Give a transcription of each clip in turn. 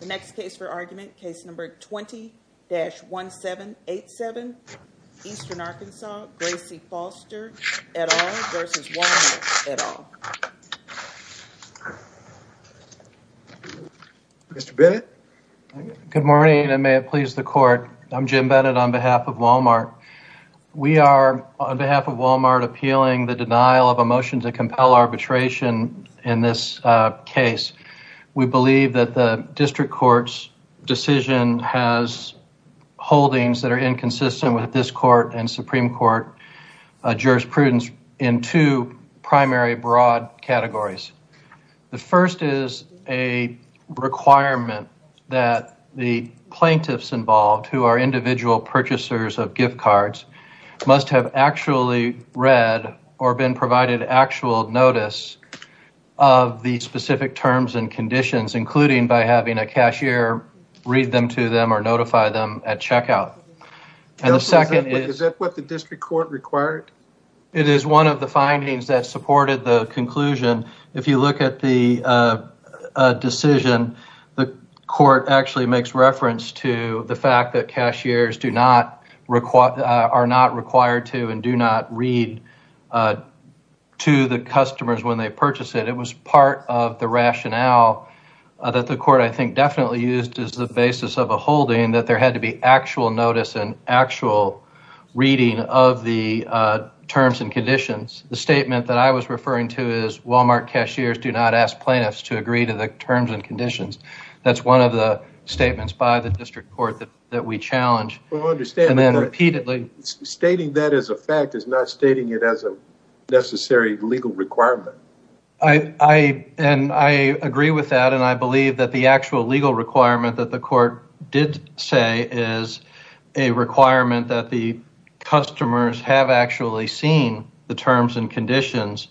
The next case for argument, case number 20-1787, Eastern Arkansas, Gracie Foster, et al. v. Walmart, et al. Mr. Bennett? Good morning, and may it please the court. I'm Jim Bennett on behalf of Walmart. We are, on behalf of Walmart, appealing the denial of a motion to compel arbitration in this case. We believe that the district court's decision has holdings that are inconsistent with this court and Supreme Court jurisprudence in two primary broad categories. The first is a requirement that the plaintiffs involved, who are individual purchasers of gift cards, must have actually read or been provided actual notice of the specific terms and conditions, including by having a cashier read them to them or notify them at checkout. Is that what the district court required? It is one of the findings that supported the conclusion. If you look at the decision, the court actually makes reference to the fact that cashiers are not required to and do not read to the customers when they purchase it. It was part of the rationale that the court, I think, definitely used as the basis of a holding that there had to be actual notice and actual reading of the terms and conditions. The statement that I was referring to is Walmart cashiers do not ask plaintiffs to agree to the terms and conditions. That's one of the statements by the district court that we challenge repeatedly. Stating that as a fact is not stating it as a necessary legal requirement. I agree with that, and I believe that the actual legal requirement that the court did say is a requirement that the customers have actually seen the terms and conditions.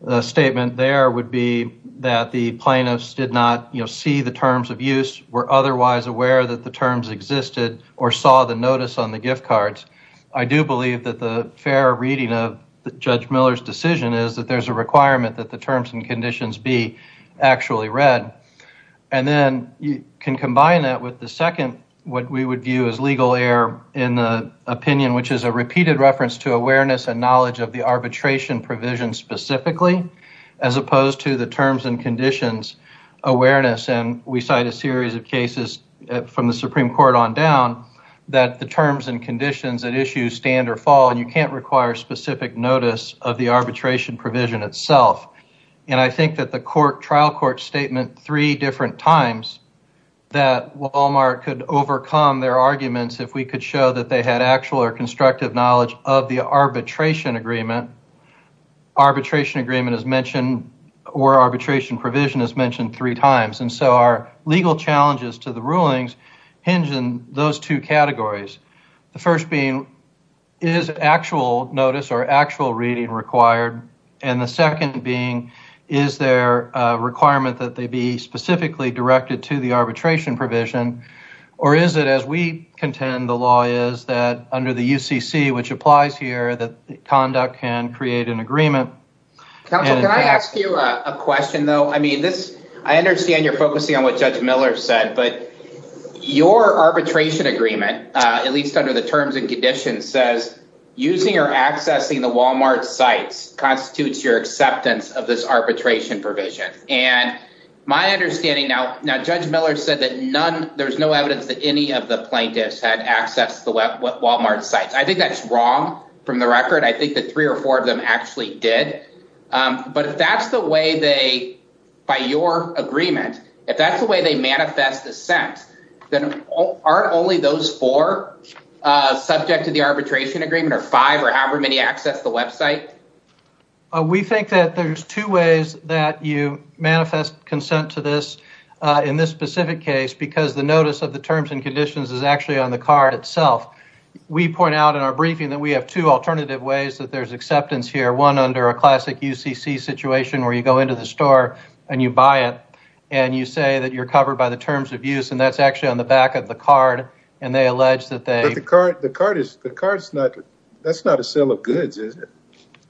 The statement there would be that the plaintiffs did not see the terms of use, were otherwise aware that the terms existed, or saw the notice on the gift cards. I do believe that the fair reading of Judge Miller's decision is that there's a requirement that the terms and conditions be actually read. And then you can combine that with the second, what we would view as legal error in the opinion, which is a repeated reference to awareness and knowledge of the arbitration provision specifically, as opposed to the terms and conditions awareness. And we cite a series of cases from the Supreme Court on down that the terms and conditions at issue stand or fall, and you can't require specific notice of the arbitration provision itself. And I think that the trial court statement three different times that Walmart could overcome their arguments if we could show that they had actual or constructive knowledge of the arbitration agreement. Arbitration agreement is mentioned or arbitration provision is mentioned three times, and so our legal challenges to the rulings hinge in those two categories. The first being, is actual notice or actual reading required? And the second being, is there a requirement that they be specifically directed to the arbitration provision, or is it as we contend the law is that under the UCC which applies here that conduct can create an agreement. Can I ask you a question, though? I mean, this I understand you're focusing on what judge Miller said, but your arbitration agreement, at least under the terms and conditions says using or accessing the Walmart sites constitutes your acceptance of this arbitration provision. And my understanding now. Now, Judge Miller said that none. There's no evidence that any of the plaintiffs had access to what Walmart sites. I think that's wrong from the record. I think that three or four of them actually did. But if that's the way they buy your agreement, if that's the way they manifest the sense that aren't only those four subject to the arbitration agreement or five or however many access the website. We think that there's two ways that you manifest consent to this in this specific case, because the notice of the terms and conditions is actually on the card itself. We point out in our briefing that we have two alternative ways that there's acceptance here, one under a classic UCC situation where you go into the store and you buy it and you say that you're covered by the terms of use. And that's actually on the back of the card. And they allege that they the card is the card is not that's not a sale of goods.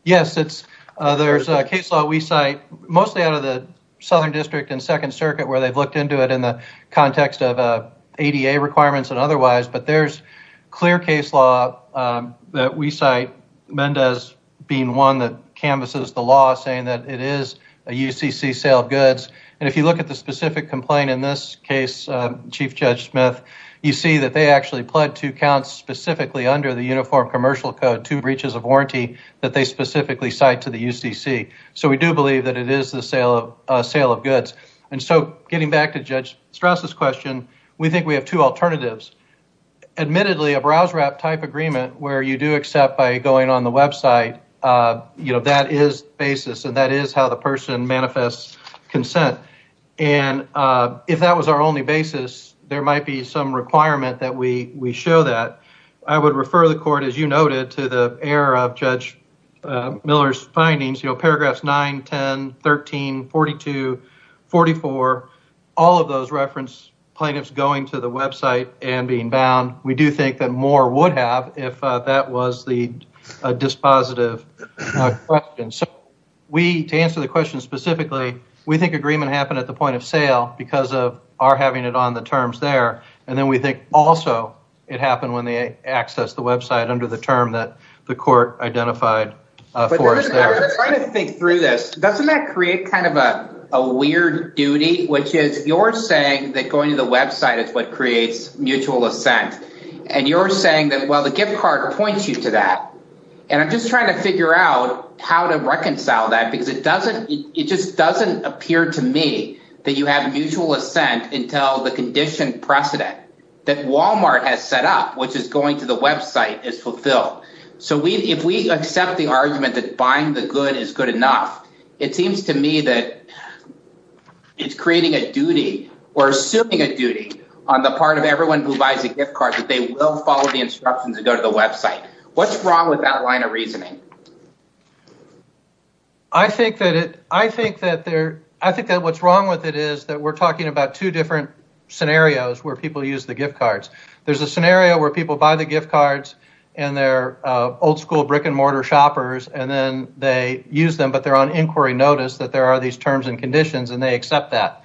Yes, it's there's a case law we cite mostly out of the Southern District and Second Circuit where they've looked into it in the context of ADA requirements and otherwise. But there's clear case law that we cite Mendez being one that canvases the law saying that it is a UCC sale of goods. And if you look at the specific complaint in this case, Chief Judge Smith, you see that they actually pled to count specifically under the Uniform Commercial Code to breaches of warranty that they specifically cite to the UCC. So we do believe that it is the sale of sale of goods. And so getting back to Judge Strauss's question, we think we have two alternatives. Admittedly, a browse wrap type agreement where you do accept by going on the website. You know, that is basis and that is how the person manifests consent. And if that was our only basis, there might be some requirement that we we show that. I would refer the court, as you noted, to the error of Judge Miller's findings, you know, paragraphs 9, 10, 13, 42, 44, all of those reference plaintiffs going to the website and being bound. We do think that more would have if that was the dispositive question. So we to answer the question specifically, we think agreement happened at the point of sale because of our having it on the terms there. And then we think also it happened when they access the website under the term that the court identified for us. Think through this. Doesn't that create kind of a weird duty, which is you're saying that going to the website is what creates mutual assent. And you're saying that, well, the gift card points you to that. And I'm just trying to figure out how to reconcile that, because it doesn't it just doesn't appear to me that you have mutual assent until the condition precedent that Wal-Mart has set up, which is going to the website is fulfilled. So, we, if we accept the argument that buying the good is good enough, it seems to me that. It's creating a duty or assuming a duty on the part of everyone who buys a gift card that they will follow the instructions and go to the website. What's wrong with that line of reasoning? I think that it I think that there I think that what's wrong with it is that we're talking about two different scenarios where people use the gift cards. There's a scenario where people buy the gift cards and they're old school brick and mortar shoppers. And then they use them. But they're on inquiry notice that there are these terms and conditions and they accept that.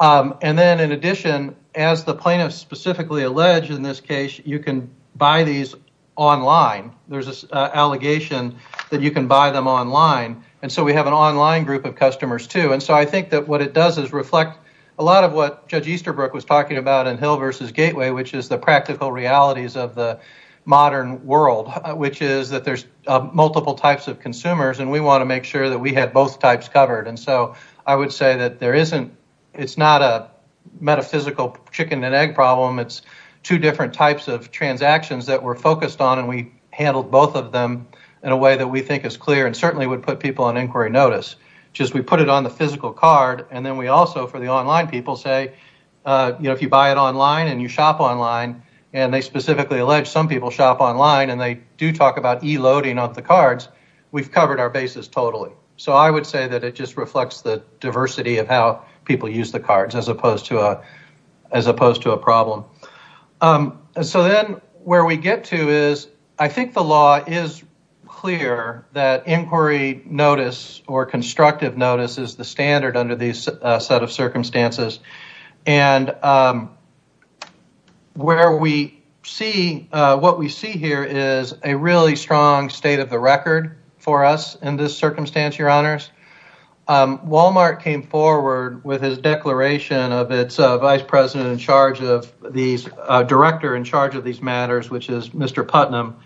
And then, in addition, as the plaintiff specifically alleged in this case, you can buy these online. There's this allegation that you can buy them online. And so we have an online group of customers, too. And so I think that what it does is reflect a lot of what Judge Easterbrook was talking about in Hill versus Gateway, which is the practical realities of the modern world, which is that there's multiple types of consumers. And we want to make sure that we have both types covered. And so I would say that there isn't it's not a metaphysical chicken and egg problem. It's two different types of transactions that we're focused on. And we handled both of them in a way that we think is clear and certainly would put people on inquiry notice. Just we put it on the physical card. And then we also, for the online people, say, you know, if you buy it online and you shop online, and they specifically allege some people shop online and they do talk about e-loading of the cards, we've covered our basis totally. So I would say that it just reflects the diversity of how people use the cards as opposed to a problem. So then where we get to is I think the law is clear that inquiry notice or constructive notice is the standard under these set of circumstances. And where we see what we see here is a really strong state of the record for us in this circumstance, your honors. Walmart came forward with his declaration of its vice president in charge of these director in charge of these matters, which is Mr. Putnam.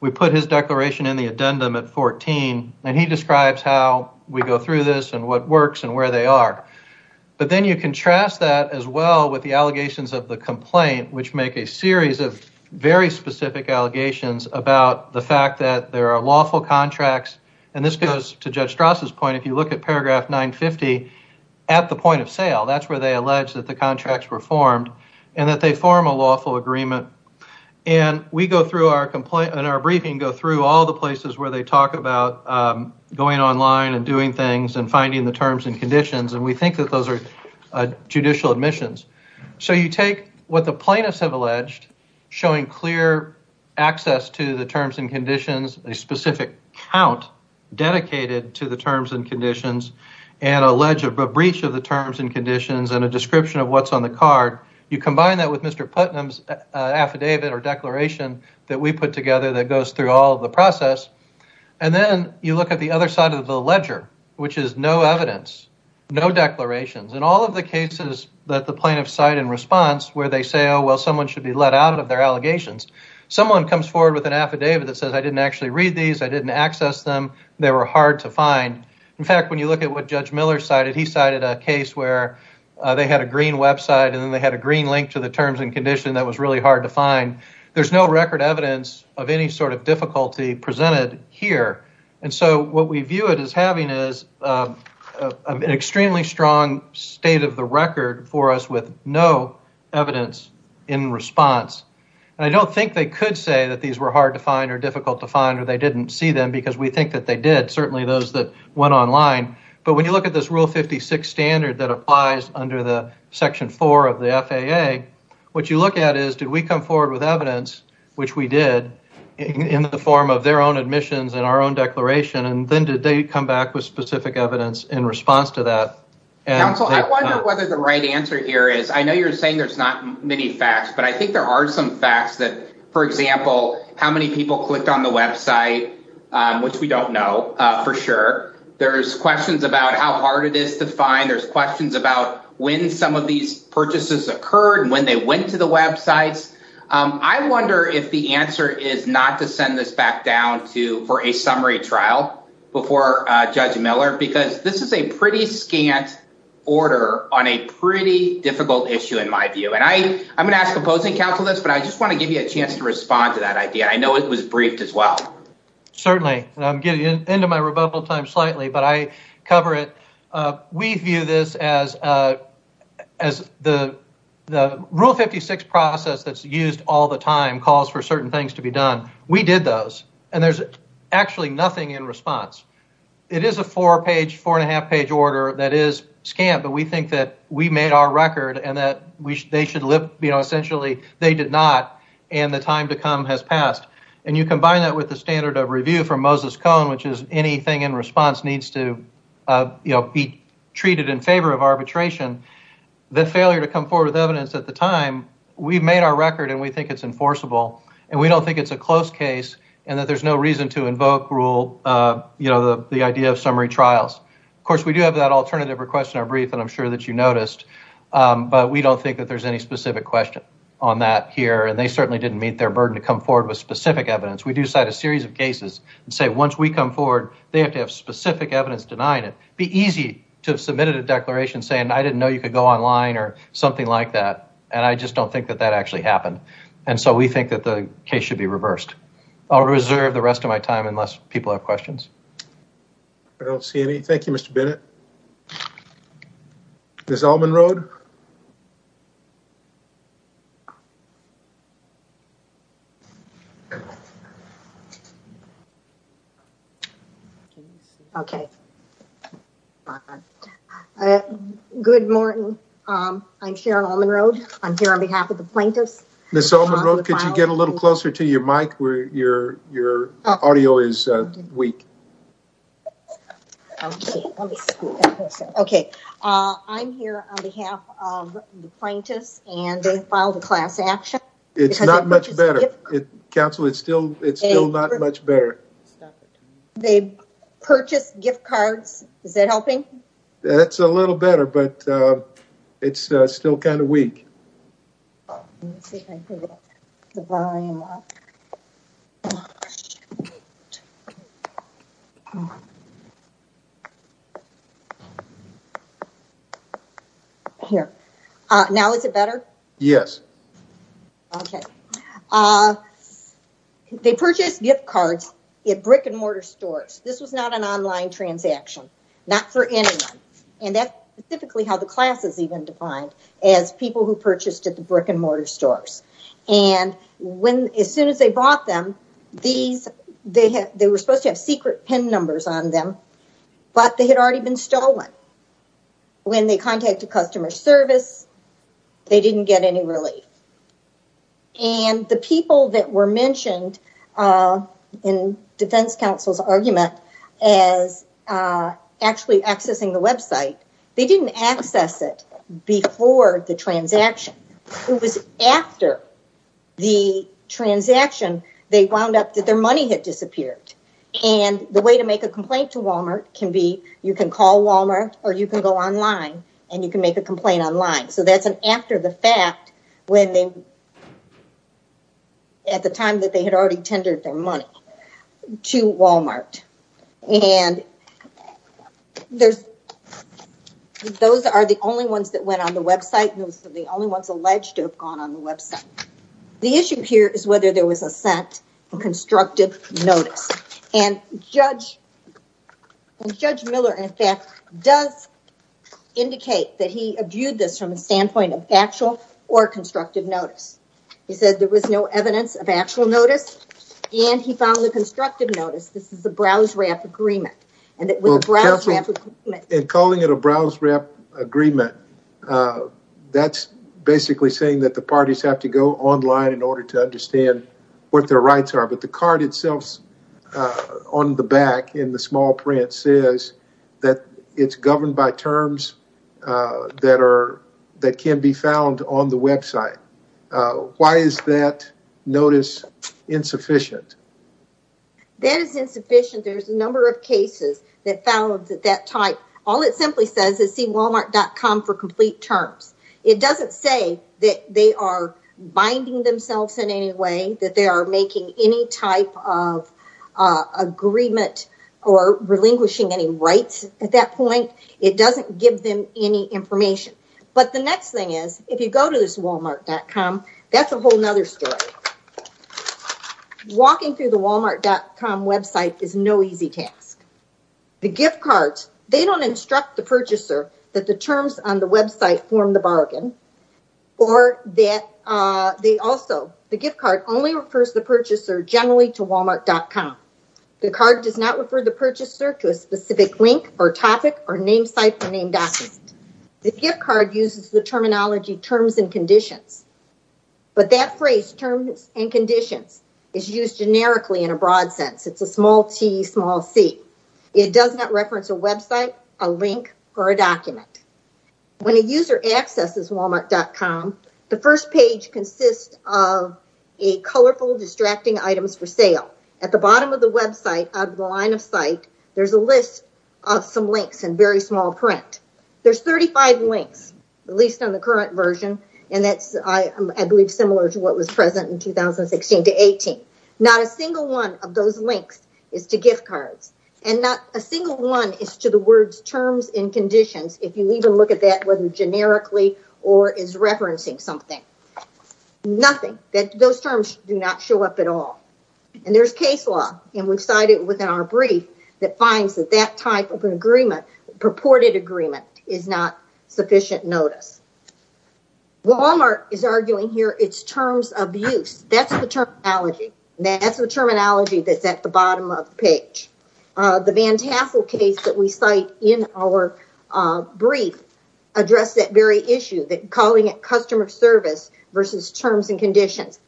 We put his declaration in the addendum at 14 and he describes how we go through this and what works and where they are. But then you contrast that as well with the allegations of the complaint, which make a series of very specific allegations about the fact that there are lawful contracts. And this goes to Judge Strasse's point. If you look at paragraph 950 at the point of sale, that's where they allege that the contracts were formed and that they form a lawful agreement. And we go through our complaint and our briefing go through all the places where they talk about going online and doing things and finding the terms and conditions. And we think that those are judicial admissions. So you take what the plaintiffs have alleged, showing clear access to the terms and conditions, a specific count dedicated to the terms and conditions and a breach of the terms and conditions and a description of what's on the card. You combine that with Mr. Putnam's affidavit or declaration that we put together that goes through all of the process. And then you look at the other side of the ledger, which is no evidence, no declarations. And all of the cases that the plaintiffs cite in response where they say, oh, well, someone should be let out of their allegations. Someone comes forward with an affidavit that says I didn't actually read these, I didn't access them, they were hard to find. In fact, when you look at what Judge Miller cited, he cited a case where they had a green website and then they had a green link to the terms and condition that was really hard to find. There's no record evidence of any sort of difficulty presented here. And so what we view it as having is an extremely strong state of the record for us with no evidence in response. And I don't think they could say that these were hard to find or difficult to find or they didn't see them because we think that they did. Certainly those that went online. But when you look at this Rule 56 standard that applies under the Section 4 of the FAA, what you look at is, did we come forward with evidence, which we did, in the form of their own admissions and our own declaration? And then did they come back with specific evidence in response to that? Counsel, I wonder whether the right answer here is I know you're saying there's not many facts, but I think there are some facts that, for example, how many people clicked on the website, which we don't know for sure. There's questions about how hard it is to find. There's questions about when some of these purchases occurred, when they went to the websites. I wonder if the answer is not to send this back down for a summary trial before Judge Miller, because this is a pretty scant order on a pretty difficult issue in my view. And I'm going to ask opposing counsel this, but I just want to give you a chance to respond to that idea. I know it was briefed as well. Certainly. I'm getting into my rebuttal time slightly, but I cover it. We view this as the Rule 56 process that's used all the time calls for certain things to be done. We did those, and there's actually nothing in response. It is a four-page, four-and-a-half-page order that is scant, but we think that we made our record and that they should essentially, they did not, and the time to come has passed. And you combine that with the standard of review from Moses Cone, which is anything in response needs to be treated in favor of arbitration. The failure to come forward with evidence at the time, we've made our record, and we think it's enforceable. And we don't think it's a close case, and that there's no reason to invoke the idea of summary trials. Of course, we do have that alternative request in our brief, and I'm sure that you noticed, but we don't think that there's any specific question on that here. And they certainly didn't meet their burden to come forward with specific evidence. We do cite a series of cases and say, once we come forward, they have to have specific evidence denying it. Be easy to have submitted a declaration saying, I didn't know you could go online or something like that. And I just don't think that that actually happened. And so we think that the case should be reversed. I'll reserve the rest of my time unless people have questions. I don't see any. Thank you, Mr. Bennett. Ms. Allman-Rhode? Good morning. I'm Sharon Allman-Rhode. I'm here on behalf of the plaintiffs. Ms. Allman-Rhode, could you get a little closer to your mic where your audio is weak? I'm here on behalf of the plaintiffs, and they filed a class action. It's not much better. Counsel, it's still not much better. They purchased gift cards. Is that helping? That's a little better, but it's still kind of weak. Here. Now, is it better? Yes. Okay. They purchased gift cards at brick-and-mortar stores. This was not an online transaction, not for anyone. And that's typically how the class is even defined, as people who purchased at the brick-and-mortar stores. And as soon as they bought them, they were supposed to have secret PIN numbers on them, but they had already been stolen. When they contacted customer service, they didn't get any relief. And the people that were mentioned in defense counsel's argument as actually accessing the website, they didn't access it before the transaction. It was after the transaction, they wound up that their money had disappeared. And the way to make a complaint to Walmart can be, you can call Walmart, or you can go online, and you can make a complaint online. So that's an after the fact, at the time that they had already tendered their money to Walmart. And those are the only ones that went on the website, and those are the only ones alleged to have gone on the website. The issue here is whether there was assent or constructive notice. And Judge Miller, in fact, does indicate that he viewed this from the standpoint of actual or constructive notice. He said there was no evidence of actual notice, and he found the constructive notice. This is the BrowseRap agreement. And calling it a BrowseRap agreement, that's basically saying that the parties have to go online in order to understand what their rights are. But the card itself on the back in the small print says that it's governed by terms that can be found on the website. Why is that notice insufficient? That is insufficient. There's a number of cases that found that type. All it simply says is see Walmart.com for complete terms. It doesn't say that they are binding themselves in any way, that they are making any type of agreement or relinquishing any rights at that point. It doesn't give them any information. But the next thing is, if you go to this Walmart.com, that's a whole other story. Walking through the Walmart.com website is no easy task. The gift cards, they don't instruct the purchaser that the terms on the website form the bargain. Also, the gift card only refers the purchaser generally to Walmart.com. The card does not refer the purchaser to a specific link or topic or name site or name document. The gift card uses the terminology terms and conditions. But that phrase, terms and conditions, is used generically in a broad sense. It's a small t, small c. It does not reference a website, a link, or a document. When a user accesses Walmart.com, the first page consists of a colorful distracting items for sale. At the bottom of the website, out of the line of sight, there's a list of some links in very small print. There's 35 links, at least on the current version. And that's, I believe, similar to what was present in 2016 to 18. Not a single one of those links is to gift cards. And not a single one is to the words terms and conditions. If you even look at that, whether generically or is referencing something. Nothing. Those terms do not show up at all. And there's case law. And we've cited within our brief that finds that that type of an agreement, purported agreement, is not sufficient notice. Walmart is arguing here it's terms of use. That's the terminology. That's the terminology that's at the bottom of the page. The Van Tassel case that we cite in our brief addressed that very issue, calling it customer service versus terms and conditions.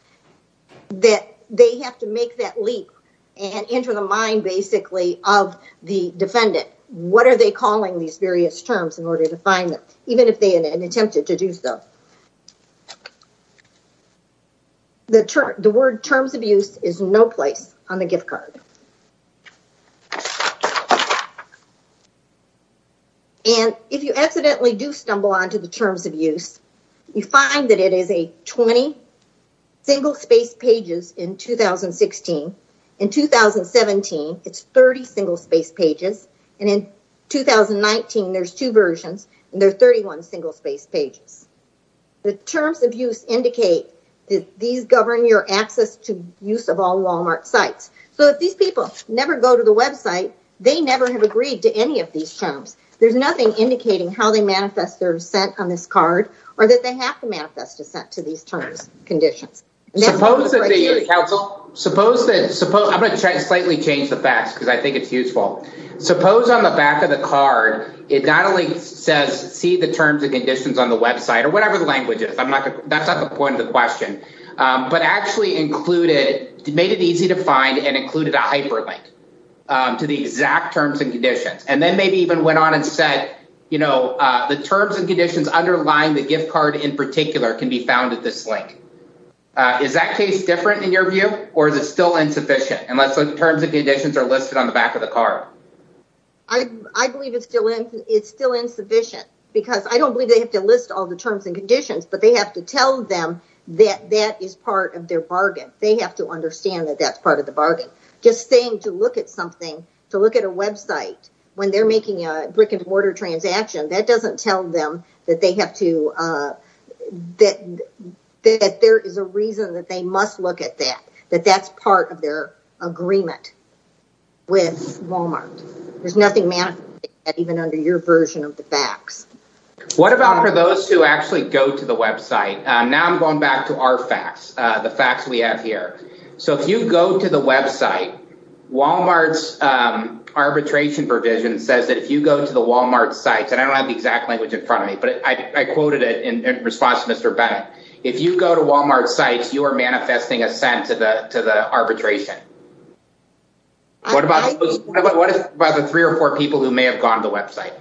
That they have to make that leap and enter the mind, basically, of the defendant. What are they calling these various terms in order to find them? Even if they had attempted to do so. The word terms of use is no place on the gift card. And if you accidentally do stumble onto the terms of use, you find that it is a 20 single-spaced pages in 2016. In 2017, it's 30 single-spaced pages. And in 2019, there's two versions. And there are 31 single-spaced pages. The terms of use indicate that these govern your access to use of all Walmart sites. So if these people never go to the website, they never have agreed to any of these terms. There's nothing indicating how they manifest their dissent on this card. Or that they have to manifest dissent to these terms and conditions. I'm going to slightly change the facts because I think it's useful. Suppose on the back of the card, it not only says see the terms and conditions on the website or whatever the language is. That's not the point of the question. But actually included, made it easy to find and included a hyperlink to the exact terms and conditions. And then maybe even went on and said, you know, the terms and conditions underlying the gift card in particular can be found at this link. Is that case different in your view? Or is it still insufficient? Unless the terms and conditions are listed on the back of the card. I believe it's still insufficient. Because I don't believe they have to list all the terms and conditions. But they have to tell them that that is part of their bargain. They have to understand that that's part of the bargain. Just saying to look at something, to look at a website when they're making a brick-and-mortar transaction. That doesn't tell them that they have to, that there is a reason that they must look at that. That that's part of their agreement with Wal-Mart. There's nothing even under your version of the facts. What about for those who actually go to the website? Now I'm going back to our facts, the facts we have here. So if you go to the website, Wal-Mart's arbitration provision says that if you go to the Wal-Mart site. And I don't have the exact language in front of me, but I quoted it in response to Mr. Bennett. If you go to Wal-Mart sites, you are manifesting assent to the arbitration. What about the three or four people who may have gone to the website?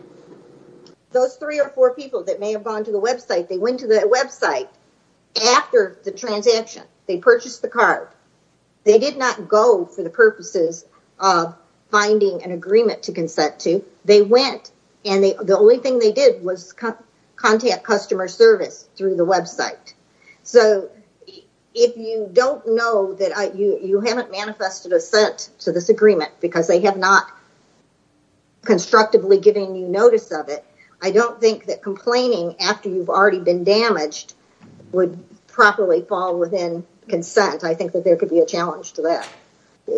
Those three or four people that may have gone to the website, they went to the website after the transaction. They purchased the card. They did not go for the purposes of finding an agreement to consent to. They went and the only thing they did was contact customer service through the website. So if you don't know that you haven't manifested assent to this agreement because they have not constructively given you notice of it. I don't think that complaining after you've already been damaged would properly fall within consent. I think that there could be a challenge to that.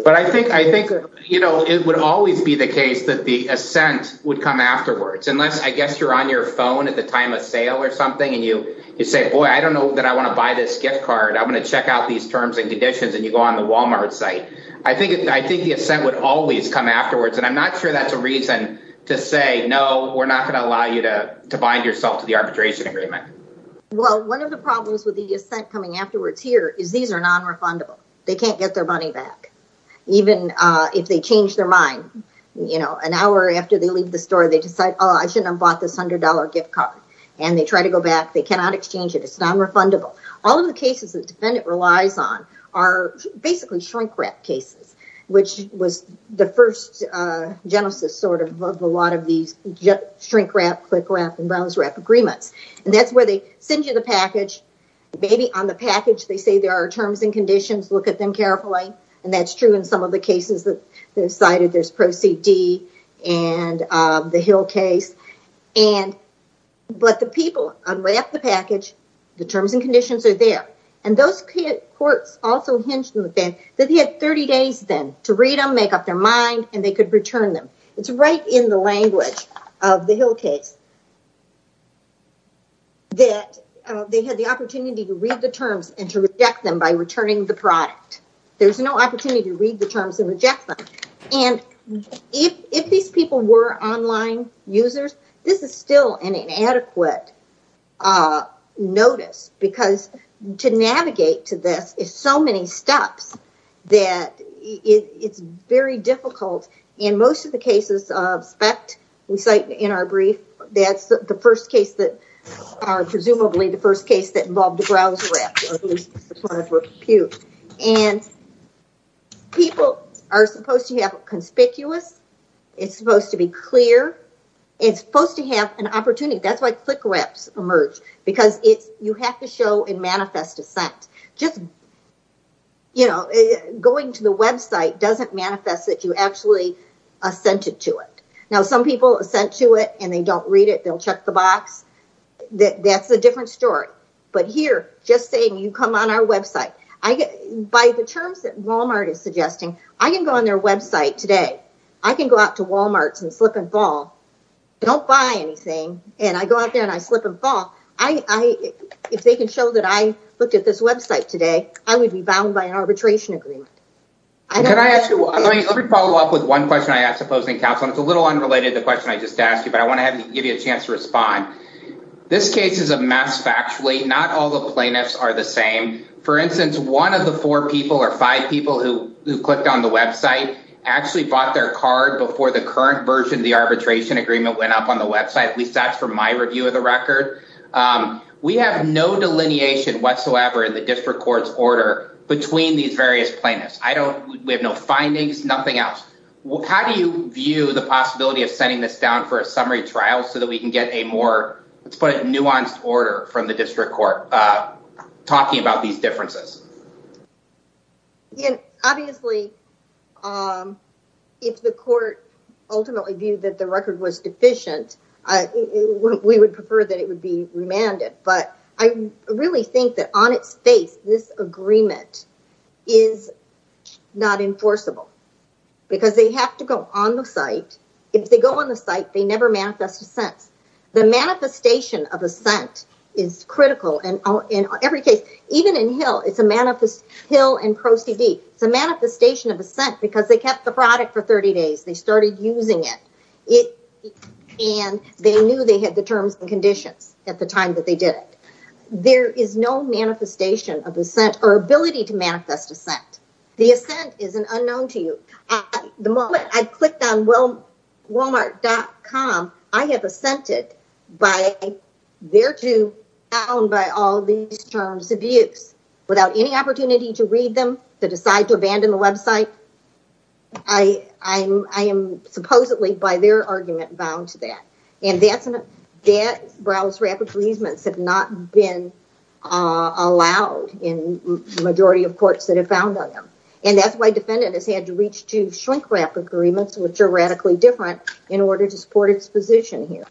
But I think I think, you know, it would always be the case that the assent would come afterwards unless I guess you're on your phone at the time of sale or something. And you say, boy, I don't know that I want to buy this gift card. I'm going to check out these terms and conditions. And you go on the Wal-Mart site. I think I think the assent would always come afterwards. And I'm not sure that's a reason to say, no, we're not going to allow you to bind yourself to the arbitration agreement. Well, one of the problems with the assent coming afterwards here is these are non-refundable. They can't get their money back even if they change their mind. You know, an hour after they leave the store, they decide, oh, I shouldn't have bought this hundred dollar gift card. And they try to go back. They cannot exchange it. It's non-refundable. All of the cases that defendant relies on are basically shrink wrap cases, which was the first genesis sort of of a lot of these shrink wrap, click wrap and bounce wrap agreements. And that's where they send you the package. Maybe on the package they say there are terms and conditions. Look at them carefully. And that's true in some of the cases that they cited. There's Proceed D and the Hill case. And but the people unwrap the package. The terms and conditions are there. And those courts also hinged on the fact that he had 30 days then to read them, make up their mind and they could return them. It's right in the language of the Hill case. That they had the opportunity to read the terms and to reject them by returning the product. There's no opportunity to read the terms and reject them. And if these people were online users, this is still an inadequate notice because to navigate to this is so many steps that it's very difficult. In most of the cases of SPECT we cite in our brief. That's the first case that are presumably the first case that involved a browser app. And people are supposed to have conspicuous. It's supposed to be clear. It's supposed to have an opportunity. Emerge because it's you have to show and manifest dissent. Just, you know, going to the Web site doesn't manifest that you actually assented to it. Now, some people sent to it and they don't read it. They'll check the box. That's a different story. But here, just saying you come on our Web site, I get by the terms that Wal-Mart is suggesting. I can go on their Web site today. I can go out to Wal-Mart and slip and fall. Don't buy anything. And I go out there and I slip and fall. I if they can show that I looked at this Web site today, I would be bound by an arbitration agreement. Can I ask you to follow up with one question? I ask opposing counsel. It's a little unrelated. The question I just asked you, but I want to have to give you a chance to respond. This case is a mess. Factually, not all the plaintiffs are the same. For instance, one of the four people or five people who clicked on the Web site actually bought their card before the current version of the arbitration agreement went up on the Web site. At least that's from my review of the record. We have no delineation whatsoever in the district court's order between these various plaintiffs. I don't. We have no findings. Nothing else. How do you view the possibility of sending this down for a summary trial so that we can get a more nuanced order from the district court talking about these differences? And obviously, if the court ultimately viewed that the record was deficient, we would prefer that it would be remanded. But I really think that on its face, this agreement is not enforceable because they have to go on the site. If they go on the site, they never manifest a sense. The manifestation of assent is critical. And in every case, even in Hill, it's a manifest Hill and Proceed. It's a manifestation of assent because they kept the product for 30 days. They started using it. And they knew they had the terms and conditions at the time that they did it. There is no manifestation of a sense or ability to manifest a sense. The assent is an unknown to you. The moment I clicked on, well, Wal-Mart dot com. I have assented by there to own by all these terms abuse without any opportunity to read them to decide to abandon the Web site. I, I, I am supposedly by their argument bound to that. And that's not yet. Browse rep agreements have not been allowed in the majority of courts that have found them. And that's why defendants had to reach to shrink rep agreements, which are radically different in order to support its position here.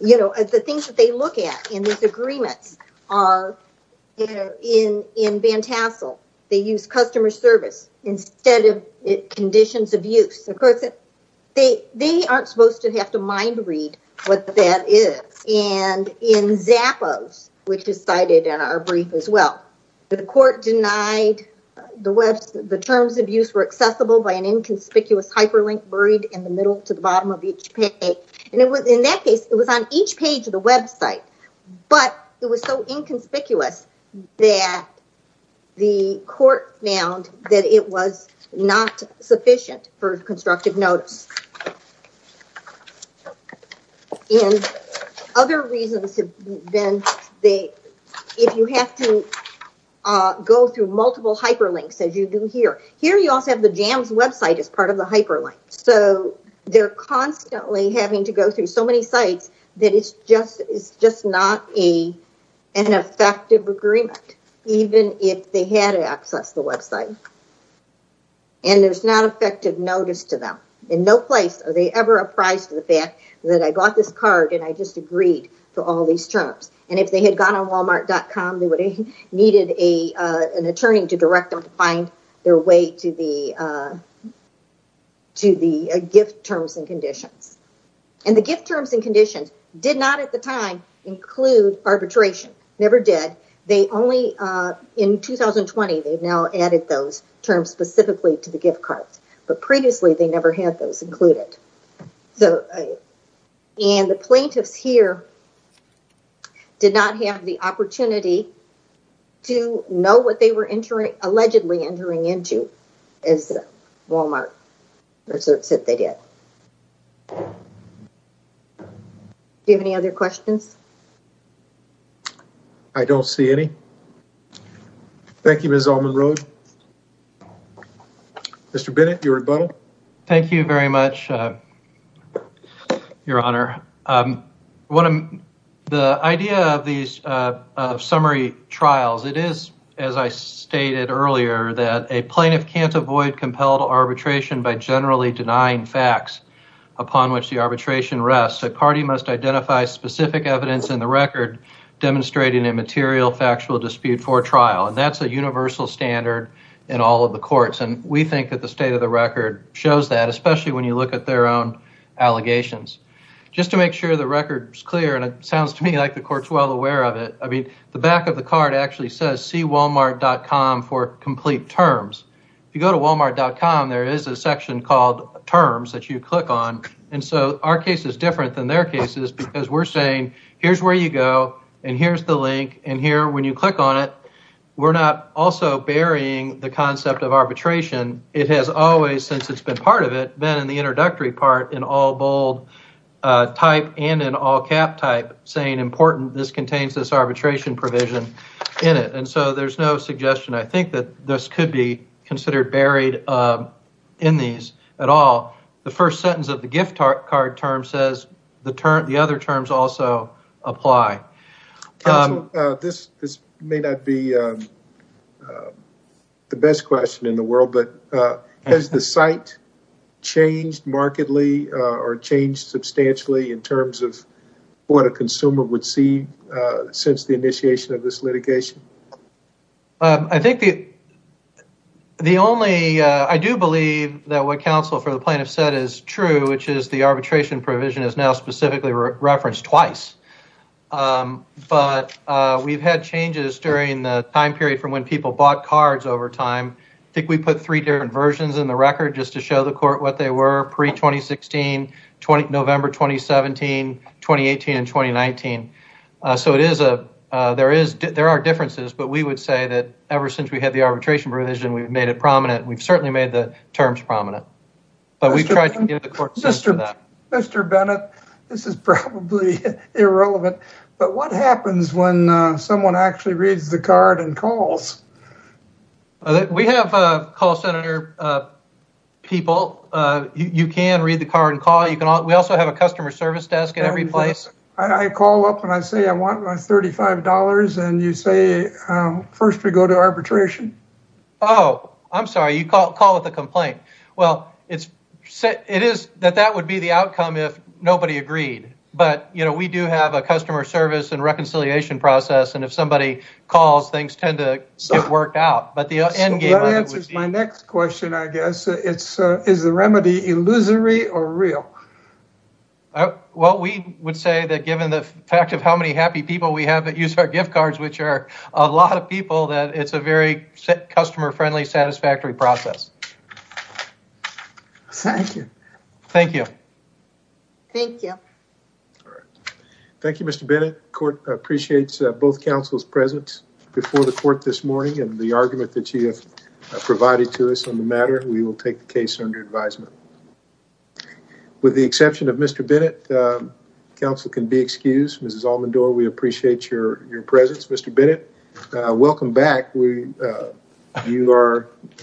You know, the things that they look at in these agreements are in in Van Tassel, they use customer service instead of conditions of use. Of course, they they aren't supposed to have to mind read what that is. And in Zappos, which is cited in our brief as well. The court denied the Web, the terms of use were accessible by an inconspicuous hyperlink buried in the middle to the bottom of each page. And it was in that case, it was on each page of the Web site. But it was so inconspicuous that the court found that it was not sufficient for constructive notice. In other reasons, then they if you have to go through multiple hyperlinks, as you do here, here, you also have the Jams Web site as part of the hyperlink. So they're constantly having to go through so many sites that it's just it's just not a an effective agreement, even if they had to access the Web site. And there's not effective notice to them in no place, are they ever apprised of the fact that I bought this card and I just agreed to all these terms. And if they had gone on Wal-Mart dot com, they would have needed a an attorney to direct them to find their way to the. To the gift terms and conditions and the gift terms and conditions did not at the time include arbitration, never did. They only in 2020, they've now added those terms specifically to the gift cards, but previously they never had those included. And the plaintiffs here. Did not have the opportunity to know what they were entering, allegedly entering into as Wal-Mart research that they did. Do you have any other questions? I don't see any. Thank you, Ms. Allman-Rhodes. Mr. Bennett, your rebuttal. Thank you very much, Your Honor. The idea of these summary trials, it is, as I stated earlier, that a plaintiff can't avoid compelled arbitration by generally denying facts upon which the arbitration rests. A party must identify specific evidence in the record demonstrating a material factual dispute for trial. And that's a universal standard in all of the courts. And we think that the state of the record shows that, especially when you look at their own allegations. Just to make sure the record is clear, and it sounds to me like the court's well aware of it, I mean, the back of the card actually says see Wal-Mart dot com for complete terms. If you go to Wal-Mart dot com, there is a section called terms that you click on. And so our case is different than their cases because we're saying, here's where you go, and here's the link, and here, when you click on it, we're not also burying the concept of arbitration. It has always, since it's been part of it, been in the introductory part in all bold type and in all cap type, saying important, this contains this arbitration provision in it. And so there's no suggestion, I think, that this could be considered buried in these at all. The first sentence of the gift card term says the other terms also apply. Counsel, this may not be the best question in the world, but has the site changed markedly or changed substantially in terms of what a consumer would see since the initiation of this litigation? I do believe that what counsel for the plaintiff said is true, which is the arbitration provision is now specifically referenced twice. But we've had changes during the time period from when people bought cards over time. I think we put three different versions in the record just to show the court what they were pre-2016, November 2017, 2018, and 2019. So there are differences, but we would say that ever since we had the arbitration provision, we've made it prominent. We've certainly made the terms prominent, but we've tried to give the court sense for that. Mr. Bennett, this is probably irrelevant, but what happens when someone actually reads the card and calls? We have call center people. You can read the card and call. We also have a customer service desk at every place. I call up and I say I want my $35, and you say first we go to arbitration. Oh, I'm sorry. You call with a complaint. Well, it is that that would be the outcome if nobody agreed. But we do have a customer service and reconciliation process, and if somebody calls, things tend to get worked out. That answers my next question, I guess. Is the remedy illusory or real? Well, we would say that given the fact of how many happy people we have that use our gift cards, which are a lot of people, that it's a very customer-friendly, satisfactory process. Thank you. Thank you. Thank you. Thank you, Mr. Bennett. The court appreciates both councils' presence before the court this morning and the argument that you have provided to us on the matter. We will take the case under advisement. With the exception of Mr. Bennett, council can be excused. Mrs. Almendore, we appreciate your presence. Mr. Bennett, welcome back. You are...